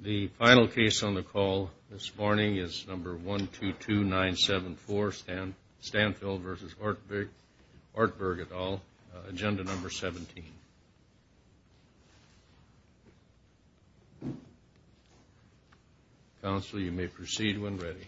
The final case on the call this morning is number 122974, Stanphill v. Ortberg et al., Agenda No. 17. Counsel, you may proceed when ready.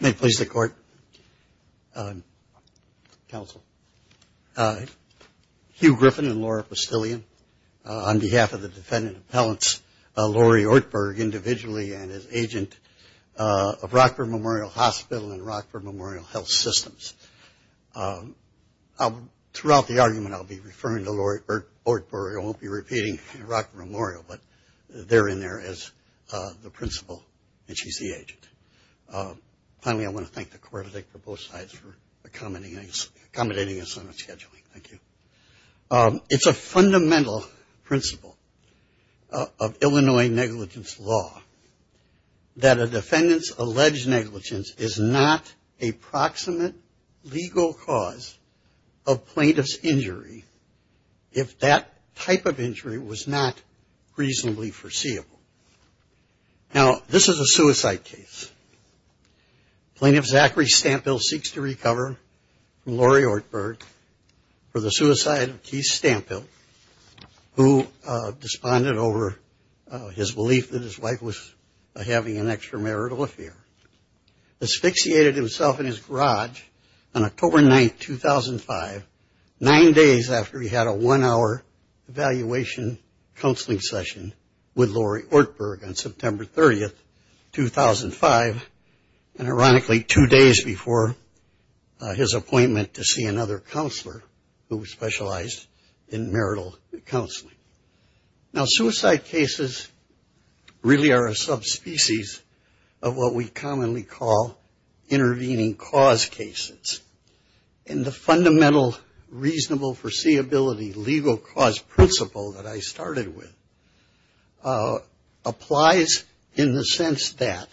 May it please the Court, Counsel, Hugh Griffin and Laura Postillian, on behalf of the defendant and appellants, Lori Ortberg, individually and as agent of Rockford Memorial Hospital and Rockford Memorial Health Systems. Throughout the argument, I'll be referring to Lori Ortberg. I won't be repeating Rockford Memorial, but they're in there as the principal, and she's the agent. Finally, I want to thank the Court, I think, for both sides for accommodating us on the scheduling. Thank you. It's a fundamental principle of Illinois negligence law that a defendant's alleged negligence is not a proximate legal cause of plaintiff's injury if that type of injury was not reasonably foreseeable. Now, this is a suicide case. Plaintiff Zachary Stanphill seeks to recover from Lori Ortberg for the suicide of Keith Stanphill, who desponded over his belief that his wife was having an extramarital affair. Asphyxiated himself in his garage on October 9, 2005, nine days after he had a one-hour evaluation counseling session with Lori Ortberg on September 30, 2005, and ironically two days before his appointment to see another counselor who specialized in marital counseling. Now, suicide cases really are a subspecies of what we commonly call intervening cause cases. And the fundamental reasonable foreseeability legal cause principle that I started with applies in the sense that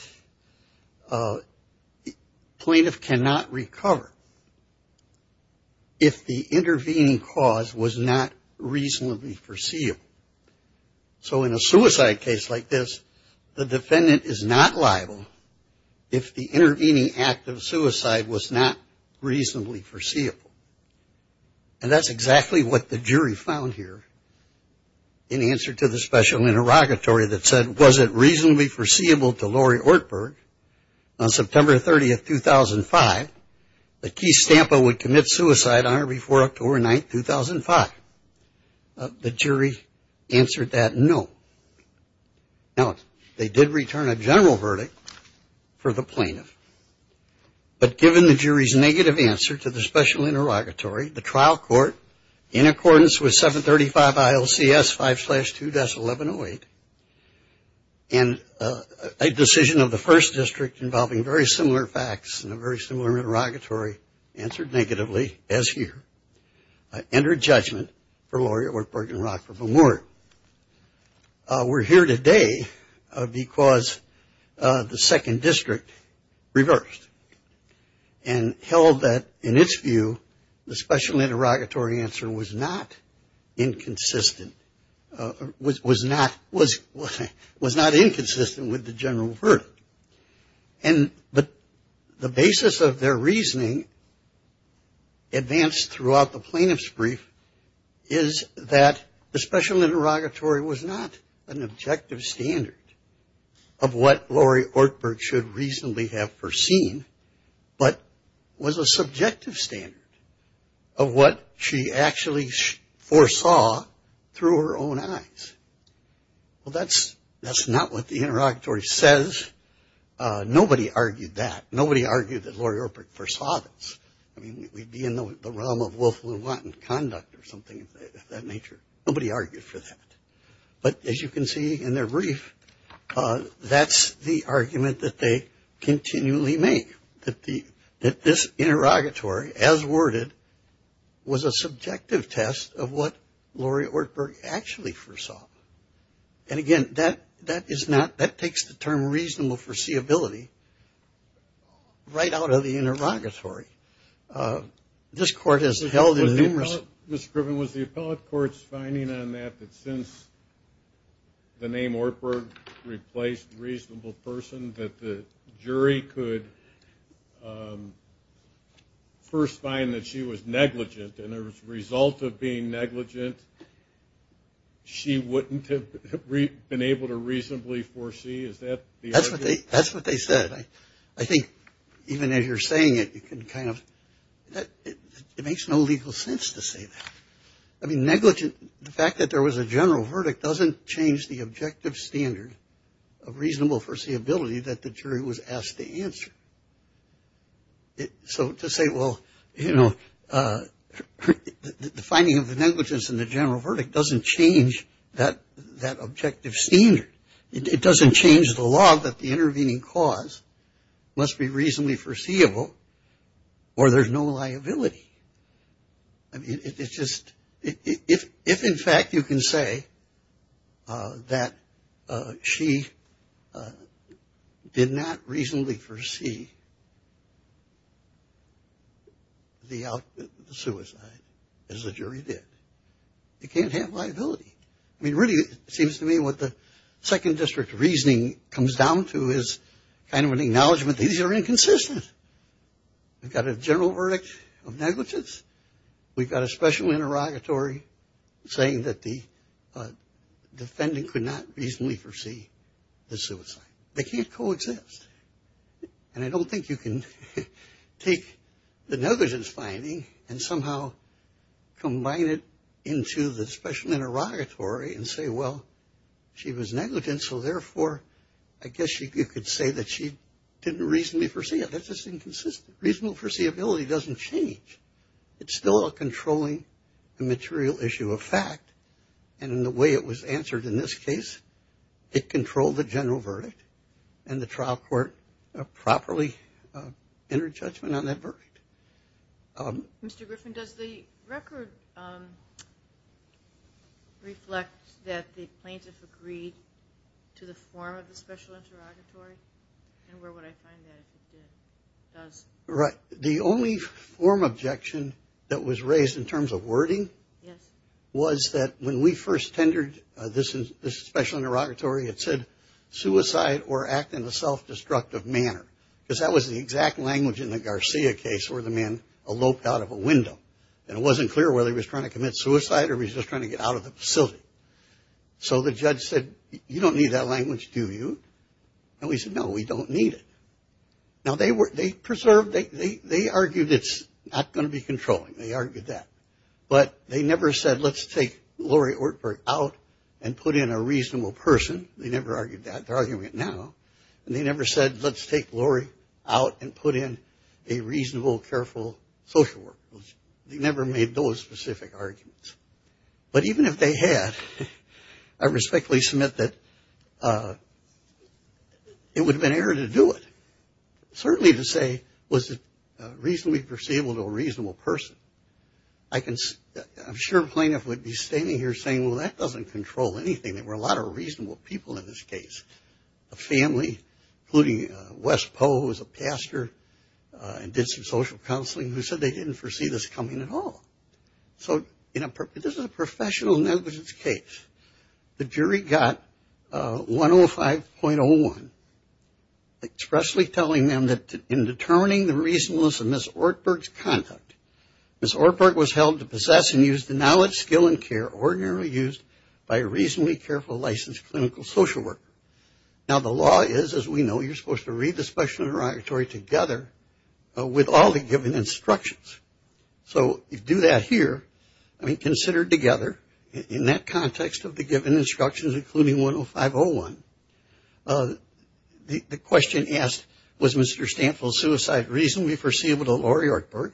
plaintiff cannot recover if the intervening cause was not reasonably foreseeable. So in a suicide case like this, the defendant is not liable if the intervening act of suicide was not reasonably foreseeable. And that's exactly what the jury found here in answer to the special interrogatory that said, was it reasonably foreseeable to Lori Ortberg on September 30, 2005, that Keith Stanphill would commit suicide on or before October 9, 2005? The jury answered that no. Now, they did return a general verdict for the plaintiff. But given the jury's negative answer to the special interrogatory, the trial court, in accordance with 735 ILCS 5-2-1108, and a decision of the first district involving very similar facts and a very similar interrogatory answered negatively, as here, entered judgment for Lori Ortberg and Rockford-McMurray. We're here today because the second district reversed and held that, in its view, the special interrogatory answer was not inconsistent with the general verdict. And the basis of their reasoning, advanced throughout the plaintiff's brief, is that the special interrogatory was not an objective standard of what Lori Ortberg should reasonably have foreseen, but was a subjective standard of what she actually foresaw through her own eyes. Well, that's not what the interrogatory says. Nobody argued that. Nobody argued that Lori Ortberg foresaw this. I mean, we'd be in the realm of Wolf-Lewontin conduct or something of that nature. Nobody argued for that. But as you can see in their brief, that's the argument that they continually make, that this interrogatory, as worded, was a subjective test of what Lori Ortberg actually foresaw. And, again, that takes the term reasonable foreseeability right out of the interrogatory. This Court has held in numerous – Mr. Griffin, was the appellate court's finding on that that since the name Ortberg replaced reasonable person, that the jury could first find that she was negligent, and as a result of being negligent, she wouldn't have been able to reasonably foresee? Is that the argument? That's what they said. I think even as you're saying it, you can kind of – it makes no legal sense to say that. I mean, negligent – the fact that there was a general verdict doesn't change the objective standard of reasonable foreseeability. That the jury was asked to answer. So to say, well, you know, the finding of negligence in the general verdict doesn't change that objective standard. It doesn't change the law that the intervening cause must be reasonably foreseeable or there's no liability. I mean, it's just – if, in fact, you can say that she did not reasonably foresee the suicide, as the jury did, you can't have liability. I mean, really, it seems to me what the Second District reasoning comes down to is kind of an acknowledgement that these are inconsistent. We've got a general verdict of negligence. We've got a special interrogatory saying that the defendant could not reasonably foresee the suicide. They can't coexist. And I don't think you can take the negligence finding and somehow combine it into the special interrogatory and say, well, she was negligent, so therefore, I guess you could say that she didn't reasonably foresee it. That's just inconsistent. Reasonable foreseeability doesn't change. It's still a controlling immaterial issue of fact. And in the way it was answered in this case, it controlled the general verdict and the trial court properly entered judgment on that verdict. Mr. Griffin, does the record reflect that the plaintiff agreed to the form of the special interrogatory? And where would I find that if it did? Right. The only form objection that was raised in terms of wording was that when we first tendered this special interrogatory, it said, suicide or act in a self-destructive manner. Because that was the exact language in the Garcia case where the man eloped out of a window. And it wasn't clear whether he was trying to commit suicide or he was just trying to get out of the facility. So the judge said, you don't need that language, do you? And we said, no, we don't need it. Now, they preserved, they argued it's not going to be controlling. They argued that. But they never said, let's take Lori Ortberg out and put in a reasonable person. They never argued that. They're arguing it now. And they never said, let's take Lori out and put in a reasonable, careful social worker. They never made those specific arguments. But even if they had, I respectfully submit that it would have been error to do it. Certainly to say, was it reasonably perceivable to a reasonable person? I'm sure a plaintiff would be standing here saying, well, that doesn't control anything. There were a lot of reasonable people in this case. A family, including Wes Poe, who was a pastor and did some social counseling, who said they didn't foresee this coming at all. So this is a professional negligence case. The jury got 105.01 expressly telling them that in determining the reasonableness of Ms. Ortberg's conduct, Ms. Ortberg was held to possess and use the knowledge, skill, and care ordinarily used by a reasonably careful licensed clinical social worker. Now the law is, as we know, you're supposed to read the special interrogatory together with all the given instructions. So if you do that here, I mean considered together, in that context of the given instructions, including 105.01, the question asked, was Mr. Stample's suicide reasonably foreseeable to Lori Ortberg?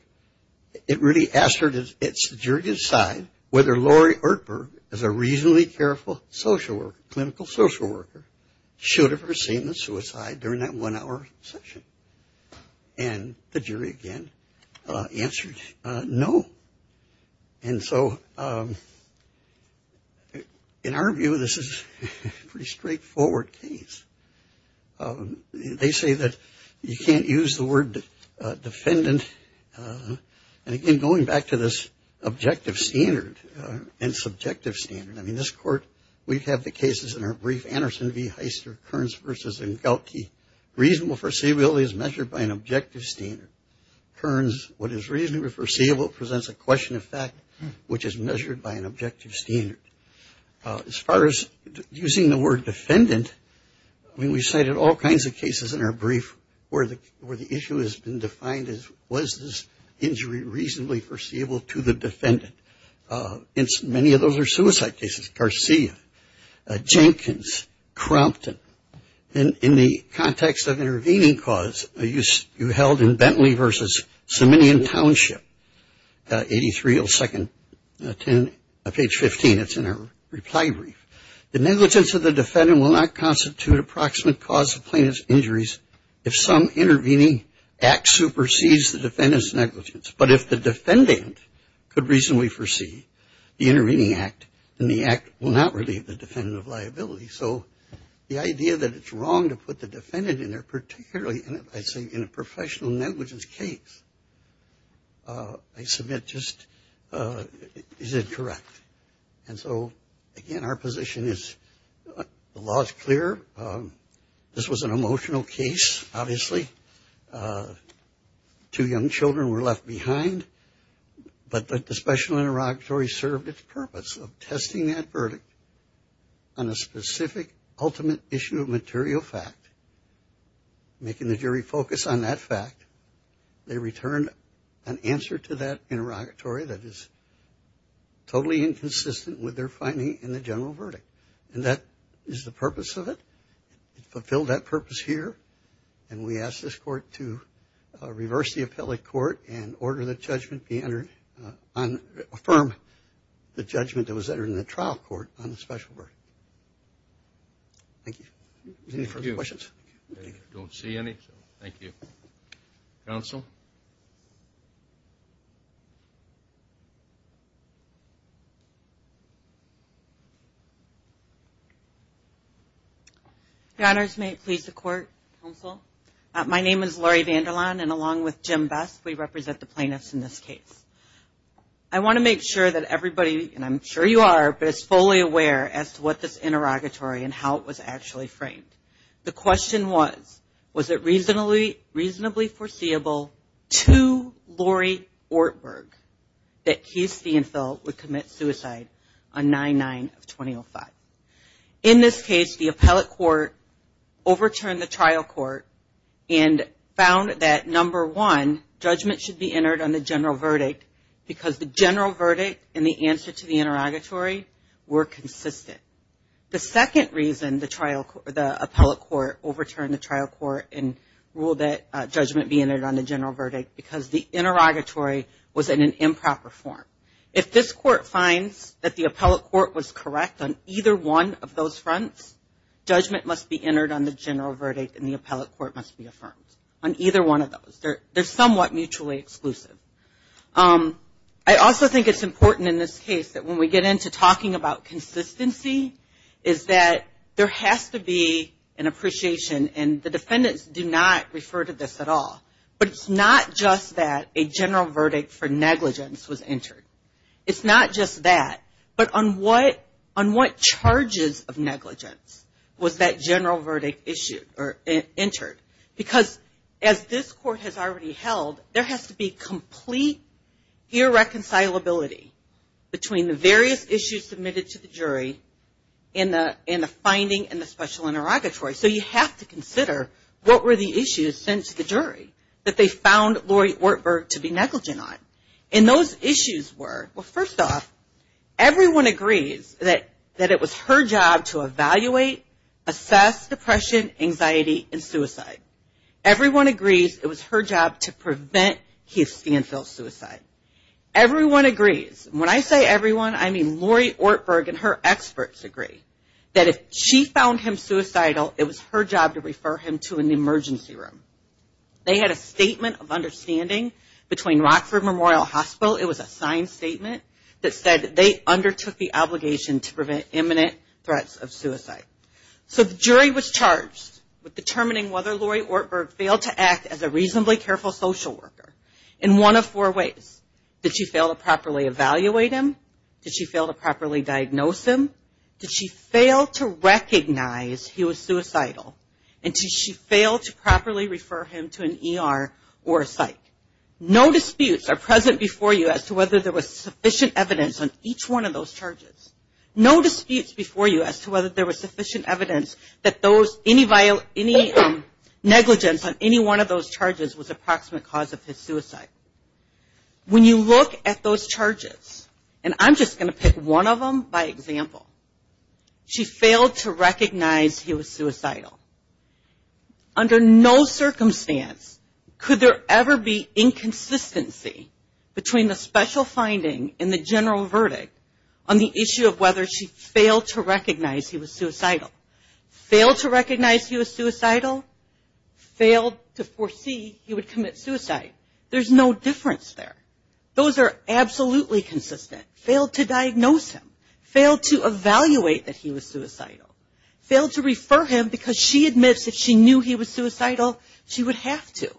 It really asked her to decide whether Lori Ortberg, as a reasonably careful social worker, clinical social worker, should have foreseen the suicide during that one-hour session. And the jury, again, answered no. And so in our view, this is a pretty straightforward case. They say that you can't use the word defendant. And again, going back to this objective standard and subjective standard, I mean, this court, we have the cases in our brief, Anderson v. Heister, Kearns versus Engelke. Reasonable foreseeability is measured by an objective standard. Kearns, what is reasonably foreseeable presents a question of fact, which is measured by an objective standard. As far as using the word defendant, I mean, we cited all kinds of cases in our brief where the issue has been defined as was this injury reasonably foreseeable to the defendant. Many of those are suicide cases. Garcia, Jenkins, Crompton. In the context of intervening cause, you held in Bentley versus Siminian Township, 83-02-10, page 15. It's in our reply brief. The negligence of the defendant will not constitute approximate cause of plaintiff's injuries if some intervening act supersedes the defendant's negligence. But if the defendant could reasonably foresee the intervening act, then the act will not relieve the defendant of liability. So the idea that it's wrong to put the defendant in there, particularly in a professional negligence case, I submit just is incorrect. And so, again, our position is the law is clear. This was an emotional case, obviously. Two young children were left behind. But the special interrogatory served its purpose of testing that verdict on a specific ultimate issue of material fact, making the jury focus on that fact. They returned an answer to that interrogatory that is totally inconsistent with their finding in the general verdict. And that is the purpose of it. It fulfilled that purpose here. And we asked this court to reverse the appellate court and order the judgment be entered on, affirm the judgment that was entered in the trial court on the special verdict. Thank you. Any further questions? I don't see any, so thank you. Counsel? Your Honors, may it please the Court? Counsel? My name is Lori Vanderlaan, and along with Jim Best, we represent the plaintiffs in this case. I want to make sure that everybody, and I'm sure you are, but is fully aware as to what this interrogatory and how it was actually framed. The question was, was it reasonably foreseeable to Lori Ortberg that Keith Steenfeld would commit suicide on 9-9 of 2005? In this case, the appellate court overturned the trial court and found that, number one, judgment should be entered on the general verdict because the general verdict and the answer to the interrogatory were consistent. The second reason the appellate court overturned the trial court and ruled that judgment be entered on the general verdict because the interrogatory was in an improper form. If this court finds that the appellate court was correct on either one of those fronts, judgment must be entered on the general verdict, and the appellate court must be affirmed on either one of those. They're somewhat mutually exclusive. I also think it's important in this case that when we get into talking about consistency, is that there has to be an appreciation, and the defendants do not refer to this at all, but it's not just that a general verdict for negligence was entered. It's not just that, but on what charges of negligence was that general verdict issued or entered? Because as this court has already held, there has to be complete irreconcilability between the various issues submitted to the jury in the finding and the special interrogatory. So you have to consider what were the issues sent to the jury that they found Lori Ortberg to be negligent on. And those issues were, well, first off, everyone agrees that it was her job to evaluate, assess depression, anxiety, and suicide. Everyone agrees it was her job to prevent Heath Stanfield's suicide. Everyone agrees, and when I say everyone, I mean Lori Ortberg and her experts agree, that if she found him suicidal, it was her job to refer him to an emergency room. They had a statement of understanding between Rockford Memorial Hospital. It was a signed statement that said they undertook the obligation to prevent imminent threats of suicide. So the jury was charged with determining whether Lori Ortberg failed to act as a reasonably careful social worker in one of four ways. Did she fail to properly evaluate him? Did she fail to properly diagnose him? Did she fail to recognize he was suicidal? And did she fail to properly refer him to an ER or a psych? No disputes are present before you as to whether there was sufficient evidence on each one of those charges. No disputes before you as to whether there was sufficient evidence that any negligence on any one of those charges was approximate cause of his suicide. When you look at those charges, and I'm just going to pick one of them by example, she failed to recognize he was suicidal. Under no circumstance could there ever be inconsistency between the special finding and the general verdict on the issue of whether she failed to recognize he was suicidal. Failed to recognize he was suicidal, failed to foresee he would commit suicide. There's no difference there. Those are absolutely consistent. Failed to diagnose him. Failed to evaluate that he was suicidal. Failed to refer him because she admits if she knew he was suicidal, she would have to.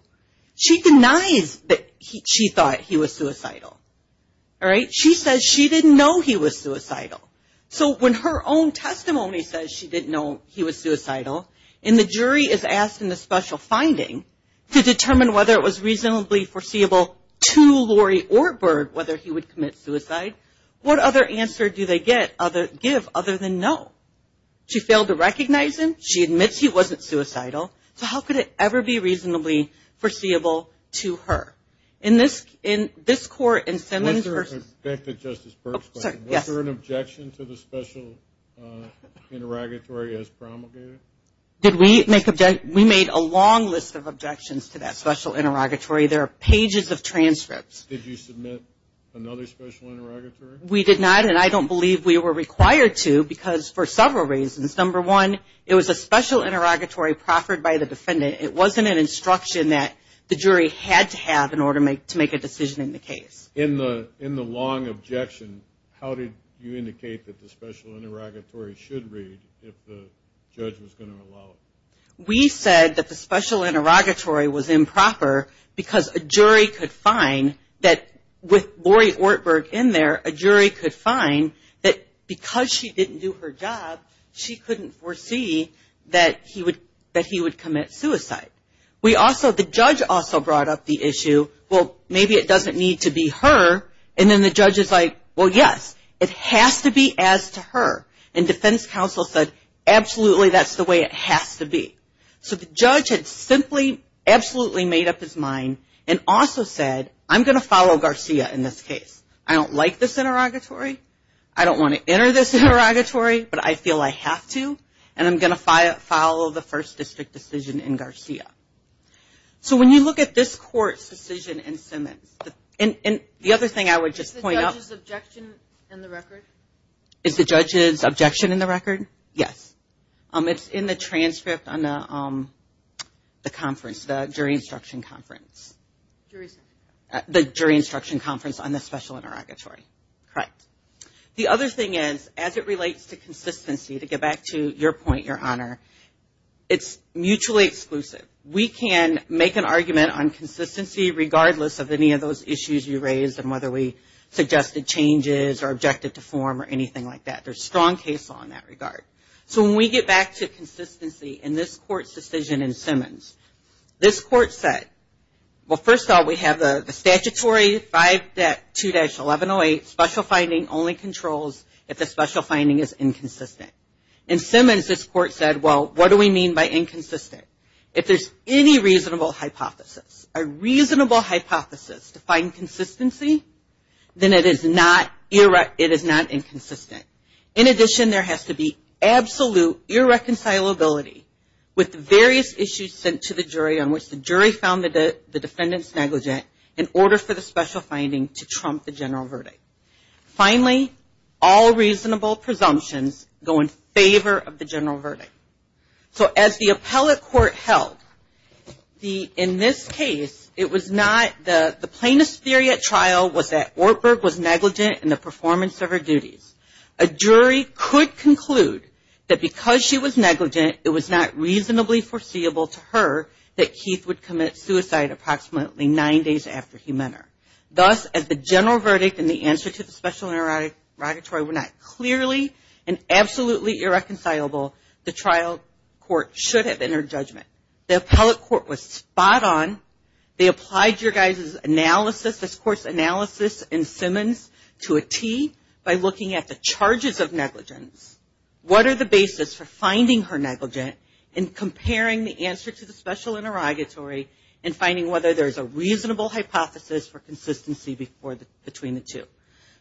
She denies that she thought he was suicidal. All right? She says she didn't know he was suicidal. So when her own testimony says she didn't know he was suicidal, and the jury is asked in the special finding to determine whether it was reasonably foreseeable to Lori Ortberg whether he would commit suicide, what other answer do they give other than no? She failed to recognize him. She admits he wasn't suicidal. So how could it ever be reasonably foreseeable to her? In this court in Simmons versus – Back to Justice Berg's question. Yes. Was there an objection to the special interrogatory as promulgated? Did we make – we made a long list of objections to that special interrogatory. There are pages of transcripts. Did you submit another special interrogatory? We did not, and I don't believe we were required to because for several reasons. Number one, it was a special interrogatory proffered by the defendant. It wasn't an instruction that the jury had to have in order to make a decision in the case. In the long objection, how did you indicate that the special interrogatory should read if the judge was going to allow it? We said that the special interrogatory was improper because a jury could find that with Lori Ortberg in there, a jury could find that because she didn't do her job, she couldn't foresee that he would commit suicide. We also – the judge also brought up the issue, well, maybe it doesn't need to be her, and then the judge is like, well, yes, it has to be as to her. And defense counsel said, absolutely, that's the way it has to be. So the judge had simply absolutely made up his mind and also said, I'm going to follow Garcia in this case. I don't like this interrogatory. I don't want to enter this interrogatory, but I feel I have to, and I'm going to follow the first district decision in Garcia. So when you look at this court's decision in Simmons – and the other thing I would just point out – Is the judge's objection in the record? Is the judge's objection in the record? Yes. It's in the transcript on the conference, the jury instruction conference. The jury instruction conference on the special interrogatory. Correct. The other thing is, as it relates to consistency, to get back to your point, Your Honor, it's mutually exclusive. We can make an argument on consistency regardless of any of those issues you raised and whether we suggested changes or objective to form or anything like that. There's strong case law in that regard. So when we get back to consistency in this court's decision in Simmons, this court said, well, first of all, we have the statutory 5.2-1108 special finding only controls if the special finding is inconsistent. In Simmons, this court said, well, what do we mean by inconsistent? If there's any reasonable hypothesis, a reasonable hypothesis to find consistency, then it is not inconsistent. In addition, there has to be absolute irreconcilability with the various issues sent to the jury on which the jury found the defendant's negligent in order for the special finding to trump the general verdict. Finally, all reasonable presumptions go in favor of the general verdict. So as the appellate court held, in this case, the plaintiff's theory at trial was that Ortberg was negligent in the performance of her duties. A jury could conclude that because she was negligent, it was not reasonably foreseeable to her that Keith would commit suicide approximately nine days after he met her. Thus, as the general verdict and the answer to the special interrogatory were not clearly and absolutely irreconcilable, the trial court should have entered judgment. The appellate court was spot on. They applied your guys' analysis, this court's analysis in Simmons to a tee by looking at the charges of negligence. What are the basis for finding her negligent and comparing the answer to the special interrogatory and finding whether there's a reasonable hypothesis for consistency between the two?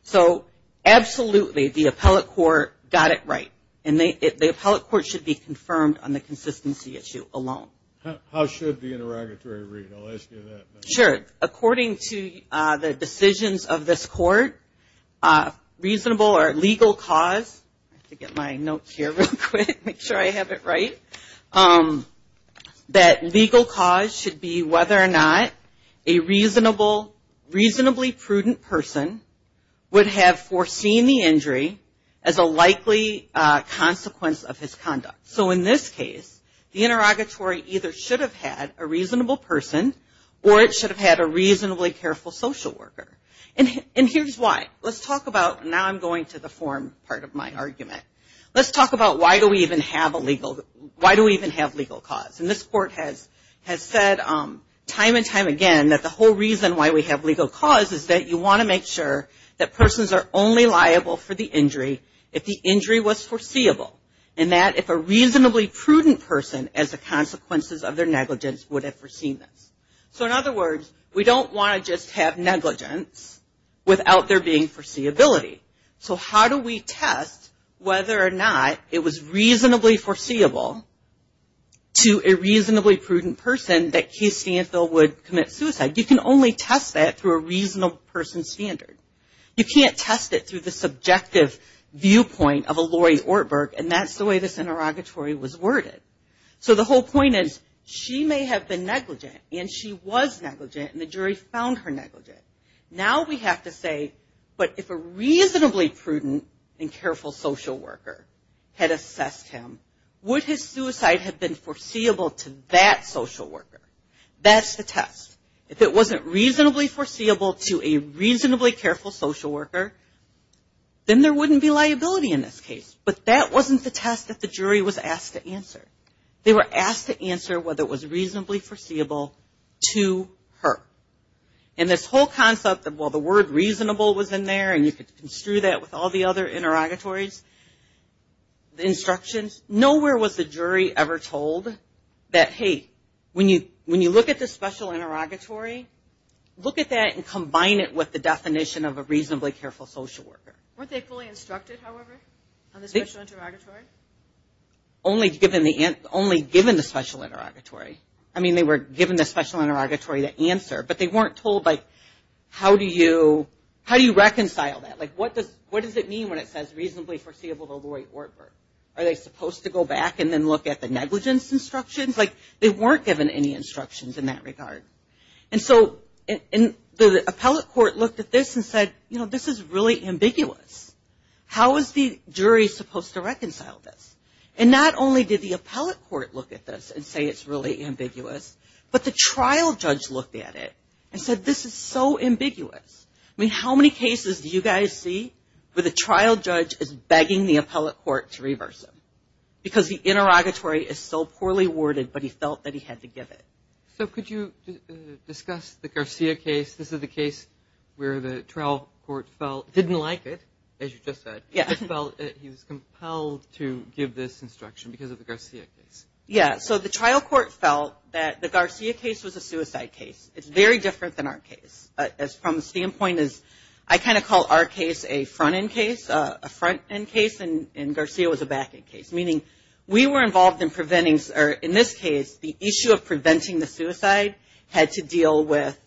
So absolutely, the appellate court got it right. And the appellate court should be confirmed on the consistency issue alone. How should the interrogatory read? I'll ask you that. Sure. According to the decisions of this court, reasonable or legal cause, I have to get my notes here real quick, make sure I have it right, that legal cause should be whether or not a reasonably prudent person would have foreseen the injury as a likely consequence of his conduct. So in this case, the interrogatory either should have had a reasonable person or it should have had a reasonably careful social worker. And here's why. Let's talk about, now I'm going to the form part of my argument. Let's talk about why do we even have legal cause. And this court has said time and time again that the whole reason why we have legal cause is that you want to make sure that persons are only liable for the injury if the injury was foreseeable and that if a reasonably prudent person as a consequence of their negligence would have foreseen this. So in other words, we don't want to just have negligence without there being foreseeability. So how do we test whether or not it was reasonably foreseeable to a reasonably prudent person that Keith Stanfill would commit suicide? You can only test that through a reasonable person's standard. You can't test it through the subjective viewpoint of a Lori Ortberg, and that's the way this interrogatory was worded. So the whole point is she may have been negligent, and she was negligent, and the jury found her negligent. Now we have to say, but if a reasonably prudent and careful social worker had assessed him, would his suicide have been foreseeable to that social worker? That's the test. If it wasn't reasonably foreseeable to a reasonably careful social worker, then there wouldn't be liability in this case. But that wasn't the test that the jury was asked to answer. They were asked to answer whether it was reasonably foreseeable to her. And this whole concept of, well, the word reasonable was in there, and you could construe that with all the other interrogatories, the instructions. Nowhere was the jury ever told that, hey, when you look at the special interrogatory, look at that and combine it with the definition of a reasonably careful social worker. Weren't they fully instructed, however, on the special interrogatory? Only given the special interrogatory. I mean, they were given the special interrogatory to answer, but they weren't told, like, how do you reconcile that? Like, what does it mean when it says reasonably foreseeable to Lori Ortberg? Are they supposed to go back and then look at the negligence instructions? Like, they weren't given any instructions in that regard. And so the appellate court looked at this and said, you know, this is really ambiguous. How is the jury supposed to reconcile this? And not only did the appellate court look at this and say it's really ambiguous, but the trial judge looked at it and said, this is so ambiguous. I mean, how many cases do you guys see where the trial judge is begging the appellate court to reverse them? Because the interrogatory is so poorly worded, but he felt that he had to give it. So could you discuss the Garcia case? This is the case where the trial court felt didn't like it, as you just said. Yeah. It felt that he was compelled to give this instruction because of the Garcia case. Yeah. So the trial court felt that the Garcia case was a suicide case. It's very different than our case. From the standpoint is I kind of call our case a front-end case, a front-end case, and Garcia was a back-end case. Meaning we were involved in preventing, or in this case, the issue of preventing the suicide had to deal with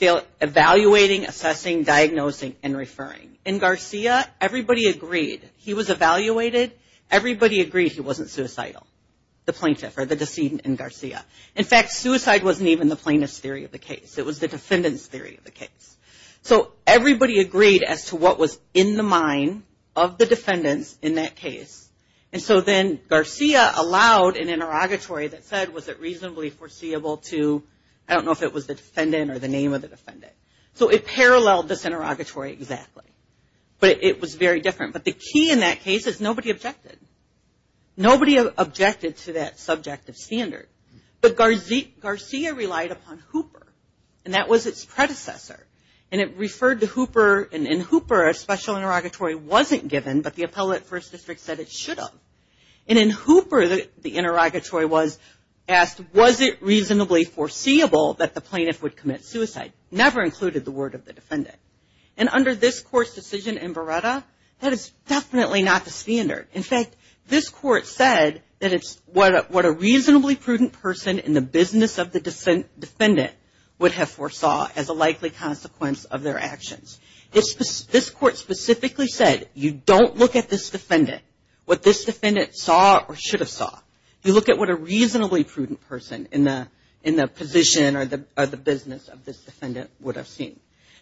evaluating, assessing, diagnosing, and referring. In Garcia, everybody agreed he was evaluated. Everybody agreed he wasn't suicidal, the plaintiff or the decedent in Garcia. In fact, suicide wasn't even the plaintiff's theory of the case. It was the defendant's theory of the case. So everybody agreed as to what was in the mind of the defendants in that case. And so then Garcia allowed an interrogatory that said was it reasonably foreseeable to, I don't know if it was the defendant or the name of the defendant. So it paralleled this interrogatory exactly. But it was very different. But the key in that case is nobody objected. Nobody objected to that subjective standard. But Garcia relied upon Hooper, and that was its predecessor. And it referred to Hooper, and in Hooper, a special interrogatory wasn't given, but the appellate first district said it should have. And in Hooper, the interrogatory was asked was it reasonably foreseeable that the plaintiff would commit suicide. Never included the word of the defendant. And under this court's decision in Beretta, that is definitely not the standard. In fact, this court said that it's what a reasonably prudent person in the business of the defendant would have foresaw as a likely consequence of their actions. This court specifically said you don't look at this defendant, what this defendant saw or should have saw. You look at what a reasonably prudent person in the position or the business of this defendant would have seen.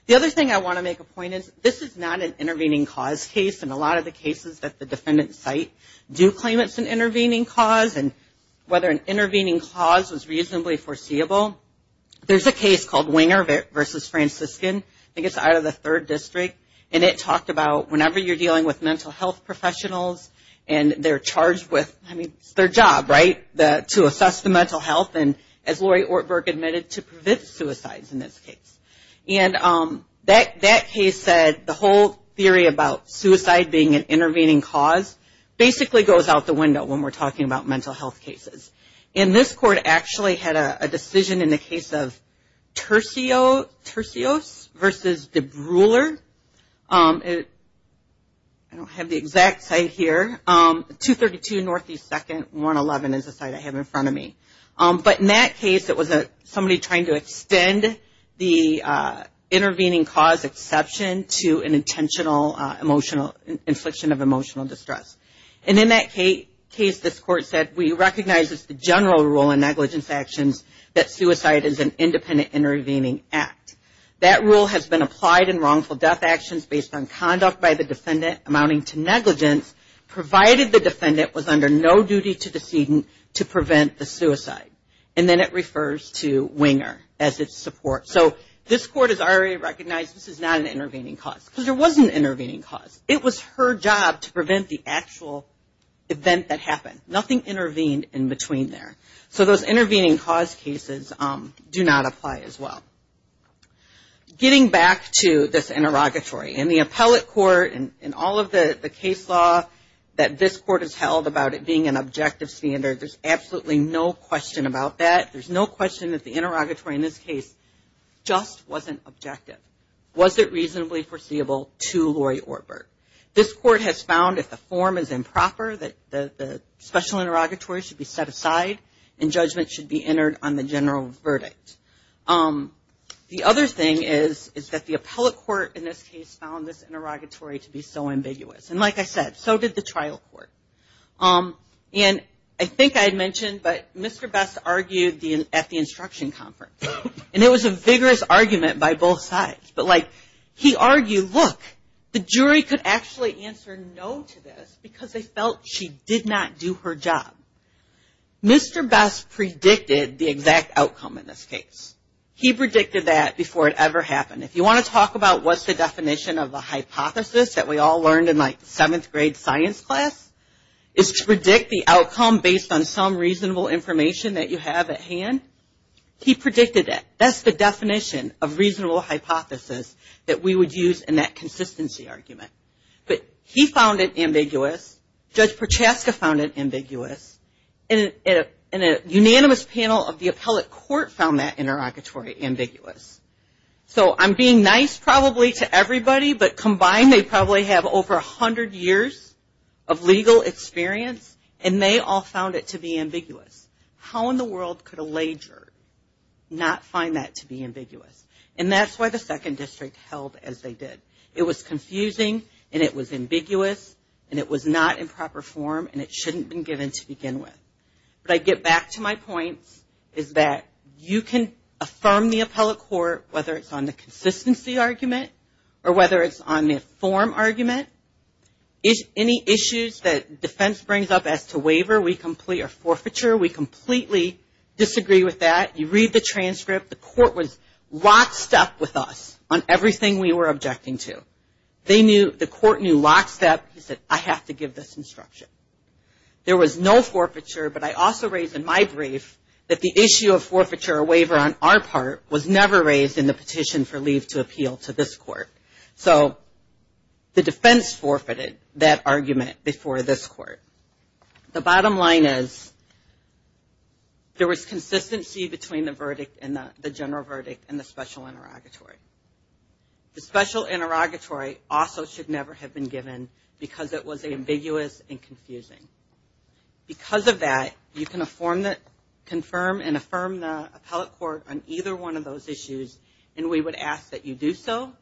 The other thing I want to make a point is this is not an intervening cause case. And a lot of the cases that the defendants cite do claim it's an intervening cause. And whether an intervening cause was reasonably foreseeable, there's a case called Winger v. Franciscan. I think it's out of the third district. And it talked about whenever you're dealing with mental health professionals and they're charged with, I mean, it's their job, right, to assess the mental health and, as Lori Ortberg admitted, to prevent suicides in this case. And that case said the whole theory about suicide being an intervening cause basically goes out the window when we're talking about mental health cases. And this court actually had a decision in the case of Tercios v. DeBruyler. I don't have the exact site here. 232 Northeast 2nd, 111 is the site I have in front of me. But in that case, it was somebody trying to extend the intervening cause exception to an intentional infliction of emotional distress. And in that case, this court said, we recognize it's the general rule in negligence actions that suicide is an independent intervening act. That rule has been applied in wrongful death actions based on conduct by the defendant amounting to negligence, provided the defendant was under no duty to the student to prevent the suicide. And then it refers to winger as its support. So this court has already recognized this is not an intervening cause because there was an intervening cause. It was her job to prevent the actual event that happened. Nothing intervened in between there. So those intervening cause cases do not apply as well. Getting back to this interrogatory, in the appellate court, in all of the case law that this court has held about it being an objective standard, there's absolutely no question about that. There's no question that the interrogatory in this case just wasn't objective, wasn't reasonably foreseeable to Lori Ortberg. This court has found if the form is improper, that the special interrogatory should be set aside and judgment should be entered on the general verdict. The other thing is that the appellate court in this case found this interrogatory to be so ambiguous. And like I said, so did the trial court. And I think I had mentioned, but Mr. Best argued at the instruction conference. And it was a vigorous argument by both sides. But, like, he argued, look, the jury could actually answer no to this because they felt she did not do her job. Mr. Best predicted the exact outcome in this case. He predicted that before it ever happened. If you want to talk about what's the definition of a hypothesis that we all learned in, like, seventh grade science class, is to predict the outcome based on some reasonable information that you have at hand, he predicted that. That's the definition of reasonable hypothesis that we would use in that consistency argument. But he found it ambiguous. Judge Prochaska found it ambiguous. And a unanimous panel of the appellate court found that interrogatory ambiguous. So I'm being nice probably to everybody, but combined they probably have over 100 years of legal experience, and they all found it to be ambiguous. How in the world could a lay juror not find that to be ambiguous? And that's why the second district held as they did. It was confusing, and it was ambiguous, and it was not in proper form, and it shouldn't have been given to begin with. But I get back to my points, is that you can affirm the appellate court, whether it's on the consistency argument or whether it's on the form argument. Any issues that defense brings up as to waiver or forfeiture, we completely disagree with that. You read the transcript. The court was lockstep with us on everything we were objecting to. The court knew lockstep. He said, I have to give this instruction. There was no forfeiture, but I also raised in my brief that the issue of forfeiture or waiver on our part was never raised in the petition for leave to appeal to this court. So the defense forfeited that argument before this court. The bottom line is there was consistency between the verdict and the general verdict and the special interrogatory. The special interrogatory also should never have been given because it was ambiguous and confusing. Because of that, you can confirm and affirm the appellate court on either one of those issues, and we would ask that you do so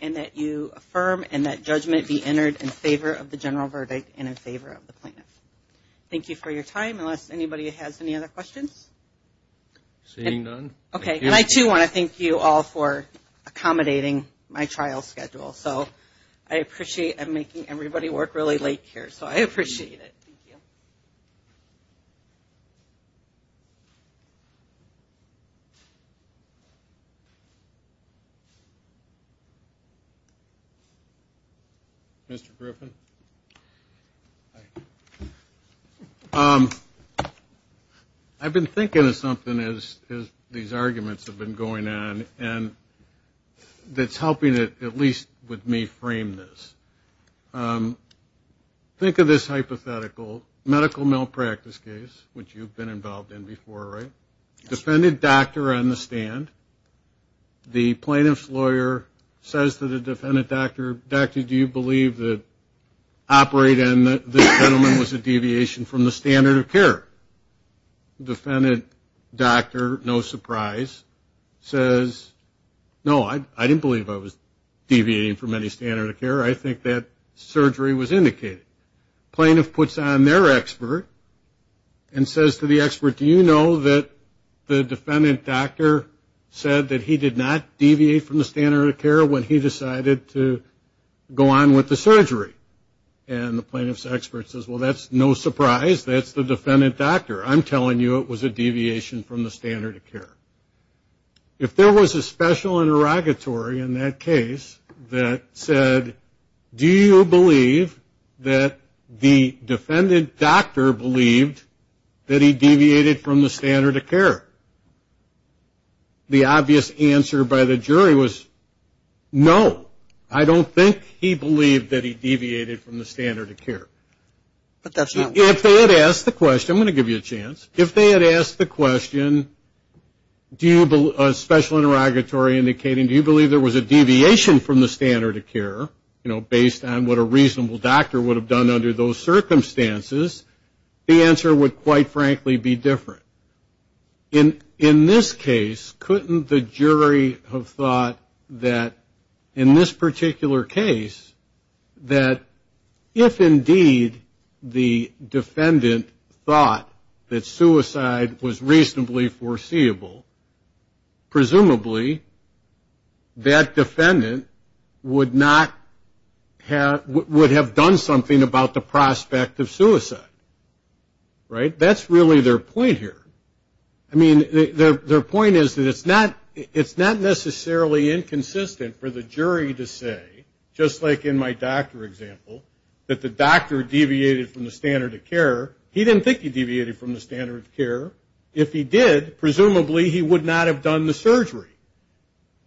and that you affirm and that judgment be entered in favor of the general verdict and in favor of the plaintiff. Thank you for your time, unless anybody has any other questions. Seeing none, thank you. Okay, and I, too, want to thank you all for accommodating my trial schedule. So I appreciate making everybody work really late here, so I appreciate it. Thank you. Mr. Griffin? Hi. I've been thinking of something as these arguments have been going on, and that's helping it at least with me frame this. Think of this hypothetical medical malpractice case, which you've been involved in before, right? Defended doctor on the stand. The plaintiff's lawyer says to the defendant, doctor, doctor, do you believe that operate and the gentleman was a deviation from the standard of care? The defendant, doctor, no surprise, says, no, I didn't believe I was deviating from any standard of care. I think that surgery was indicated. Plaintiff puts on their expert and says to the expert, do you know that the defendant, doctor, said that he did not deviate from the standard of care when he decided to go on with the surgery? And the plaintiff's expert says, well, that's no surprise. That's the defendant, doctor. I'm telling you it was a deviation from the standard of care. If there was a special interrogatory in that case that said, do you believe that the defendant, doctor, believed that he deviated from the standard of care? The obvious answer by the jury was, no, I don't think he believed that he deviated from the standard of care. If they had asked the question, I'm going to give you a chance. If they had asked the question, special interrogatory indicating, do you believe there was a deviation from the standard of care, you know, based on what a reasonable doctor would have done under those circumstances, the answer would, quite frankly, be different. In this case, couldn't the jury have thought that in this particular case, that if indeed the defendant thought that suicide was reasonably foreseeable, presumably that defendant would have done something about the prospect of suicide, right? That's really their point here. I mean, their point is that it's not necessarily inconsistent for the jury to say, just like in my doctor example, that the doctor deviated from the standard of care. He didn't think he deviated from the standard of care. If he did, presumably he would not have done the surgery.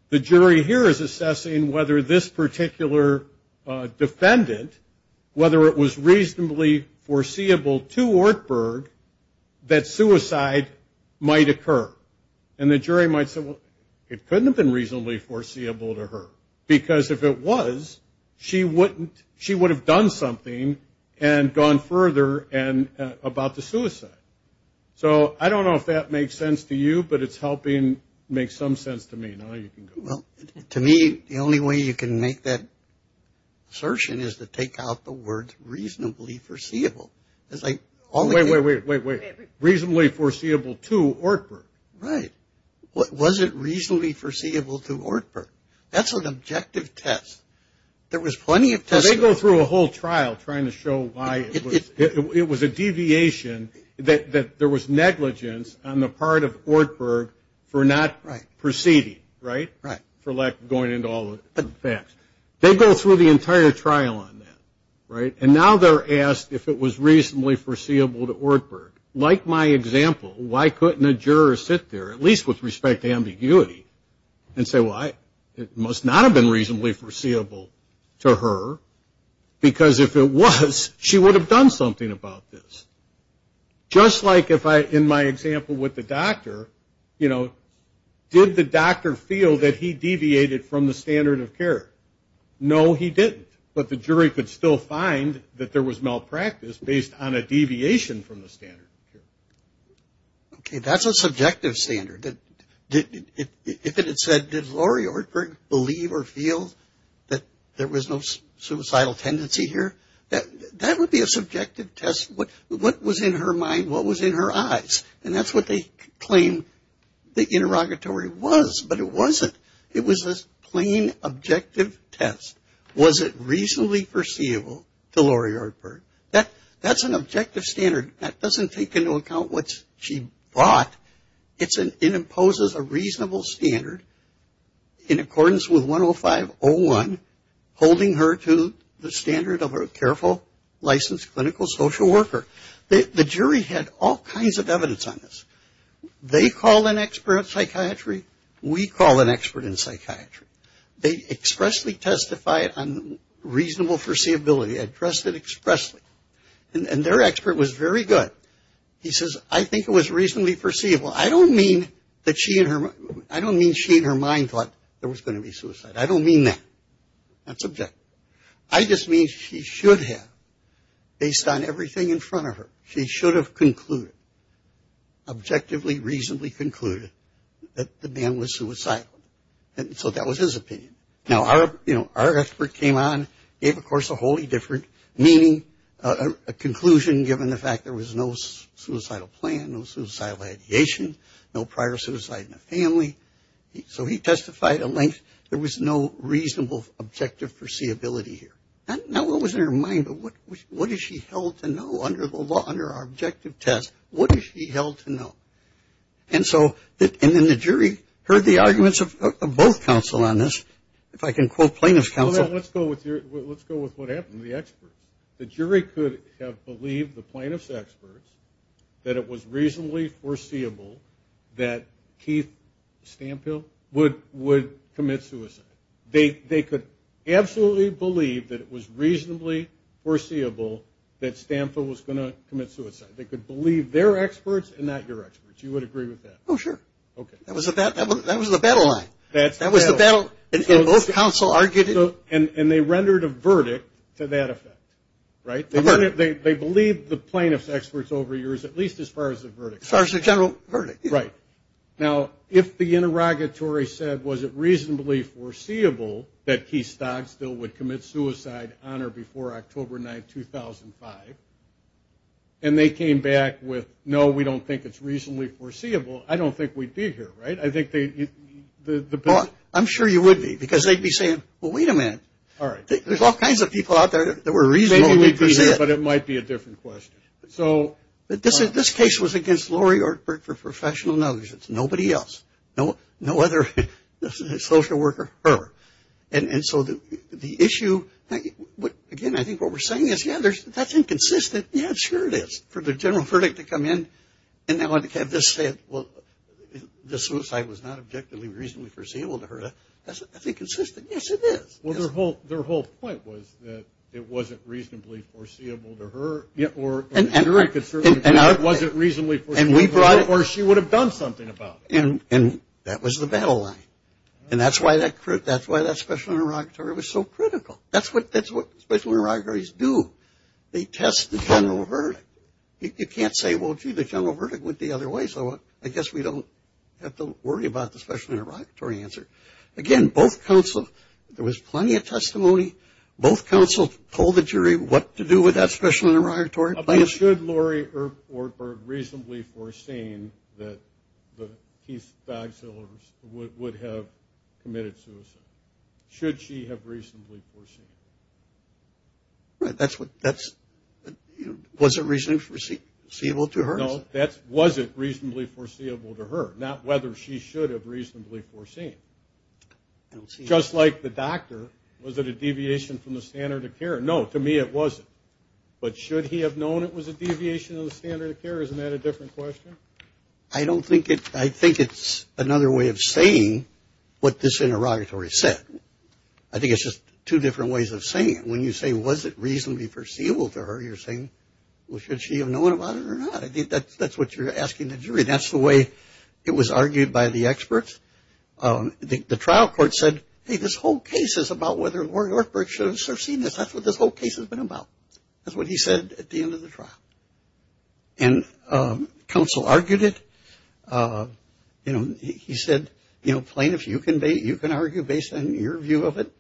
The jury here is assessing whether this particular defendant, whether it was reasonably foreseeable to Ortberg that suicide might occur. And the jury might say, well, it couldn't have been reasonably foreseeable to her. Because if it was, she would have done something and gone further about the suicide. So I don't know if that makes sense to you, but it's helping make some sense to me. Now you can go. To me, the only way you can make that assertion is to take out the words reasonably foreseeable. Wait, wait, wait. Reasonably foreseeable to Ortberg. Right. Was it reasonably foreseeable to Ortberg? That's an objective test. There was plenty of testing. They go through a whole trial trying to show why it was a deviation, that there was negligence on the part of Ortberg for not proceeding, right? Right. For lack of going into all the facts. They go through the entire trial on that, right? And now they're asked if it was reasonably foreseeable to Ortberg. Like my example, why couldn't a juror sit there, at least with respect to ambiguity, and say, well, it must not have been reasonably foreseeable to her, because if it was, she would have done something about this. Just like if I, in my example with the doctor, you know, did the doctor feel that he deviated from the standard of care? No, he didn't. But the jury could still find that there was malpractice based on a deviation from the standard of care. Okay, that's a subjective standard. If it had said, did Lori Ortberg believe or feel that there was no suicidal tendency here, that would be a subjective test. What was in her mind? What was in her eyes? And that's what they claim the interrogatory was, but it wasn't. It was a plain, objective test. Was it reasonably foreseeable to Lori Ortberg? That's an objective standard. That doesn't take into account what she brought. It imposes a reasonable standard in accordance with 105.01, holding her to the standard of a careful, licensed clinical social worker. The jury had all kinds of evidence on this. They call an expert in psychiatry. We call an expert in psychiatry. They expressly testified on reasonable foreseeability, addressed it expressly. And their expert was very good. He says, I think it was reasonably foreseeable. I don't mean she in her mind thought there was going to be suicide. I don't mean that. That's objective. I just mean she should have, based on everything in front of her, she should have concluded, objectively, reasonably concluded that the man was suicidal. So that was his opinion. Now, our expert came on, gave, of course, a wholly different meaning, a conclusion given the fact there was no suicidal plan, no suicidal ideation, no prior suicide in the family. So he testified a length. There was no reasonable objective foreseeability here. Not what was in her mind, but what is she held to know under the law, under our objective test? What is she held to know? And so, and then the jury heard the arguments of both counsel on this. If I can quote plaintiff's counsel. Let's go with what happened to the experts. The jury could have believed the plaintiff's experts that it was reasonably foreseeable that Keith Stampil would commit suicide. They could absolutely believe that it was reasonably foreseeable that Stampil was going to commit suicide. They could believe their experts and not your experts. You would agree with that? Oh, sure. Okay. That was the battle line. That was the battle. And both counsel argued it. And they rendered a verdict to that effect. Right? They believed the plaintiff's experts over yours, at least as far as the verdict. As far as the general verdict. Right. Now, if the interrogatory said, was it reasonably foreseeable that Keith Stampil would commit suicide on or before October 9, 2005, and they came back with, no, we don't think it's reasonably foreseeable, I don't think we'd be here. Right? Well, I'm sure you would be, because they'd be saying, well, wait a minute. There's all kinds of people out there that were reasonably present. Maybe we'd be here, but it might be a different question. This case was against Lori Ortberg for professional negligence. Nobody else. No other social worker. And so the issue, again, I think what we're saying is, yeah, that's inconsistent. Yeah, sure it is. For the general verdict to come in and have this say, well, the suicide was not objectively reasonably foreseeable to her, that's inconsistent. Yes, it is. Well, their whole point was that it wasn't reasonably foreseeable to her, or it wasn't reasonably foreseeable to her, or she would have done something about it. And that was the battle line. And that's why that special interrogatory was so critical. That's what special interrogatories do. They test the general verdict. You can't say, well, gee, the general verdict went the other way, so I guess we don't have to worry about the special interrogatory answer. Again, both counsels, there was plenty of testimony. Both counsels told the jury what to do with that special interrogatory. But should Lori Ortberg reasonably foreseen that Keith Bagsill would have committed suicide? Should she have reasonably foreseen? That's what – was it reasonably foreseeable to her? No, that wasn't reasonably foreseeable to her, not whether she should have reasonably foreseen. Just like the doctor, was it a deviation from the standard of care? No, to me it wasn't. But should he have known it was a deviation of the standard of care? Isn't that a different question? I don't think it – I think it's another way of saying what this interrogatory said. I think it's just two different ways of saying it. When you say, was it reasonably foreseeable to her, you're saying, well, should she have known about it or not? I think that's what you're asking the jury. That's the way it was argued by the experts. The trial court said, hey, this whole case is about whether Lori Ortberg should have foreseen this. That's what this whole case has been about. That's what he said at the end of the trial. And counsel argued it. He said, you know, plaintiffs, you can argue based on your view of it,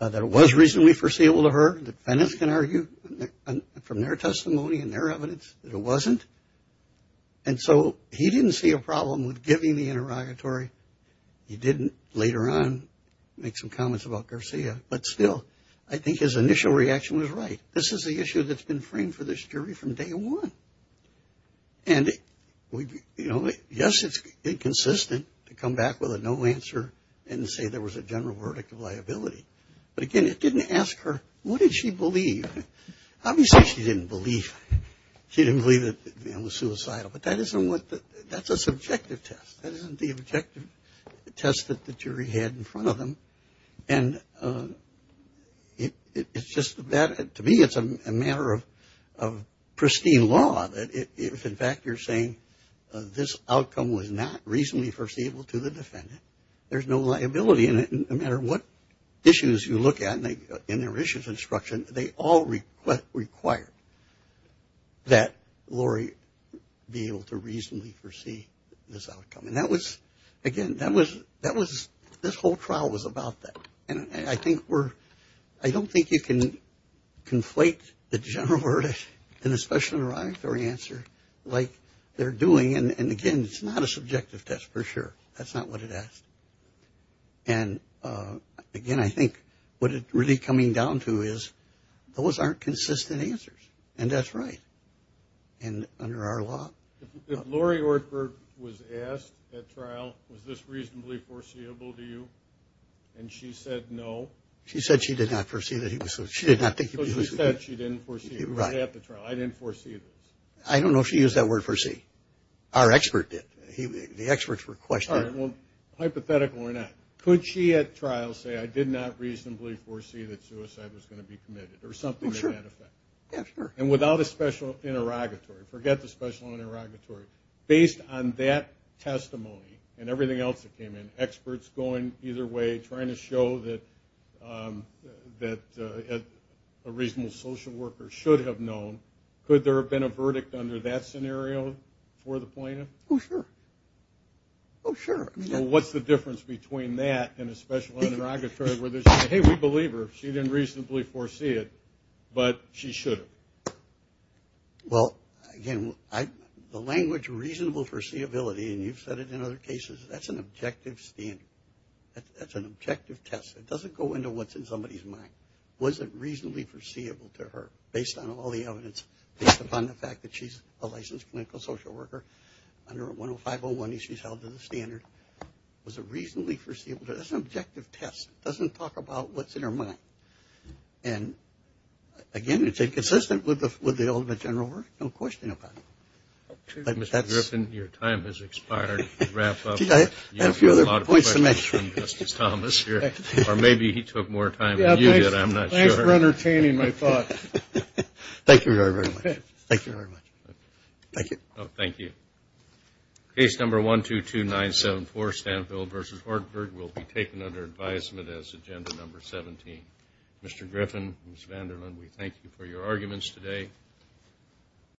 that it was reasonably foreseeable to her, defendants can argue from their testimony and their evidence that it wasn't. And so he didn't see a problem with giving the interrogatory. He didn't later on make some comments about Garcia. But still, I think his initial reaction was right. This is the issue that's been framed for this jury from day one. And, you know, yes, it's inconsistent to come back with a no answer and say there was a general verdict of liability. But, again, it didn't ask her, what did she believe? Obviously, she didn't believe it was suicidal. But that's a subjective test. That isn't the objective test that the jury had in front of them. And it's just that to me it's a matter of pristine law. If, in fact, you're saying this outcome was not reasonably foreseeable to the defendant, there's no liability in it no matter what issues you look at in their issues instruction. They all require that Lori be able to reasonably foresee this outcome. And that was, again, that was, this whole trial was about that. And I think we're, I don't think you can conflate the general verdict and the special interrogatory answer like they're doing. And, again, it's not a subjective test for sure. That's not what it asked. And, again, I think what it's really coming down to is those aren't consistent answers. And that's right. And under our law? If Lori Ortberg was asked at trial, was this reasonably foreseeable to you, and she said no? She said she did not foresee that he was suicidal. She did not think he was suicidal. So she said she didn't foresee it. Right. She was at the trial. I didn't foresee this. I don't know if she used that word foresee. Our expert did. The experts were questioning. All right. Well, hypothetical or not, could she at trial say, I did not reasonably foresee that suicide was going to be committed or something to that effect? Well, sure. Yeah, sure. And without a special interrogatory? Forget the special interrogatory. Based on that testimony and everything else that came in, experts going either way trying to show that a reasonable social worker should have known, could there have been a verdict under that scenario for the plaintiff? Oh, sure. Oh, sure. So what's the difference between that and a special interrogatory where they say, hey, we believe her, she didn't reasonably foresee it, but she should have? Well, again, the language reasonable foreseeability, and you've said it in other cases, that's an objective standard. That's an objective test. It doesn't go into what's in somebody's mind. Was it reasonably foreseeable to her based on all the evidence, based upon the fact that she's a licensed clinical social worker under a 105.01, and she's held to the standard? Was it reasonably foreseeable to her? That's an objective test. It doesn't talk about what's in her mind. And, again, it's inconsistent with the ultimate general verdict. No question about it. Mr. Griffin, your time has expired. To wrap up, you have a lot of questions from Justice Thomas here, or maybe he took more time than you did. I'm not sure. Thanks for entertaining my thoughts. Thank you very, very much. Thank you very much. Thank you. Thank you. Case number 122974, Stanfield v. Hartford, will be taken under advisement as agenda number 17. Mr. Griffin, Ms. Vanderland, we thank you for your arguments today.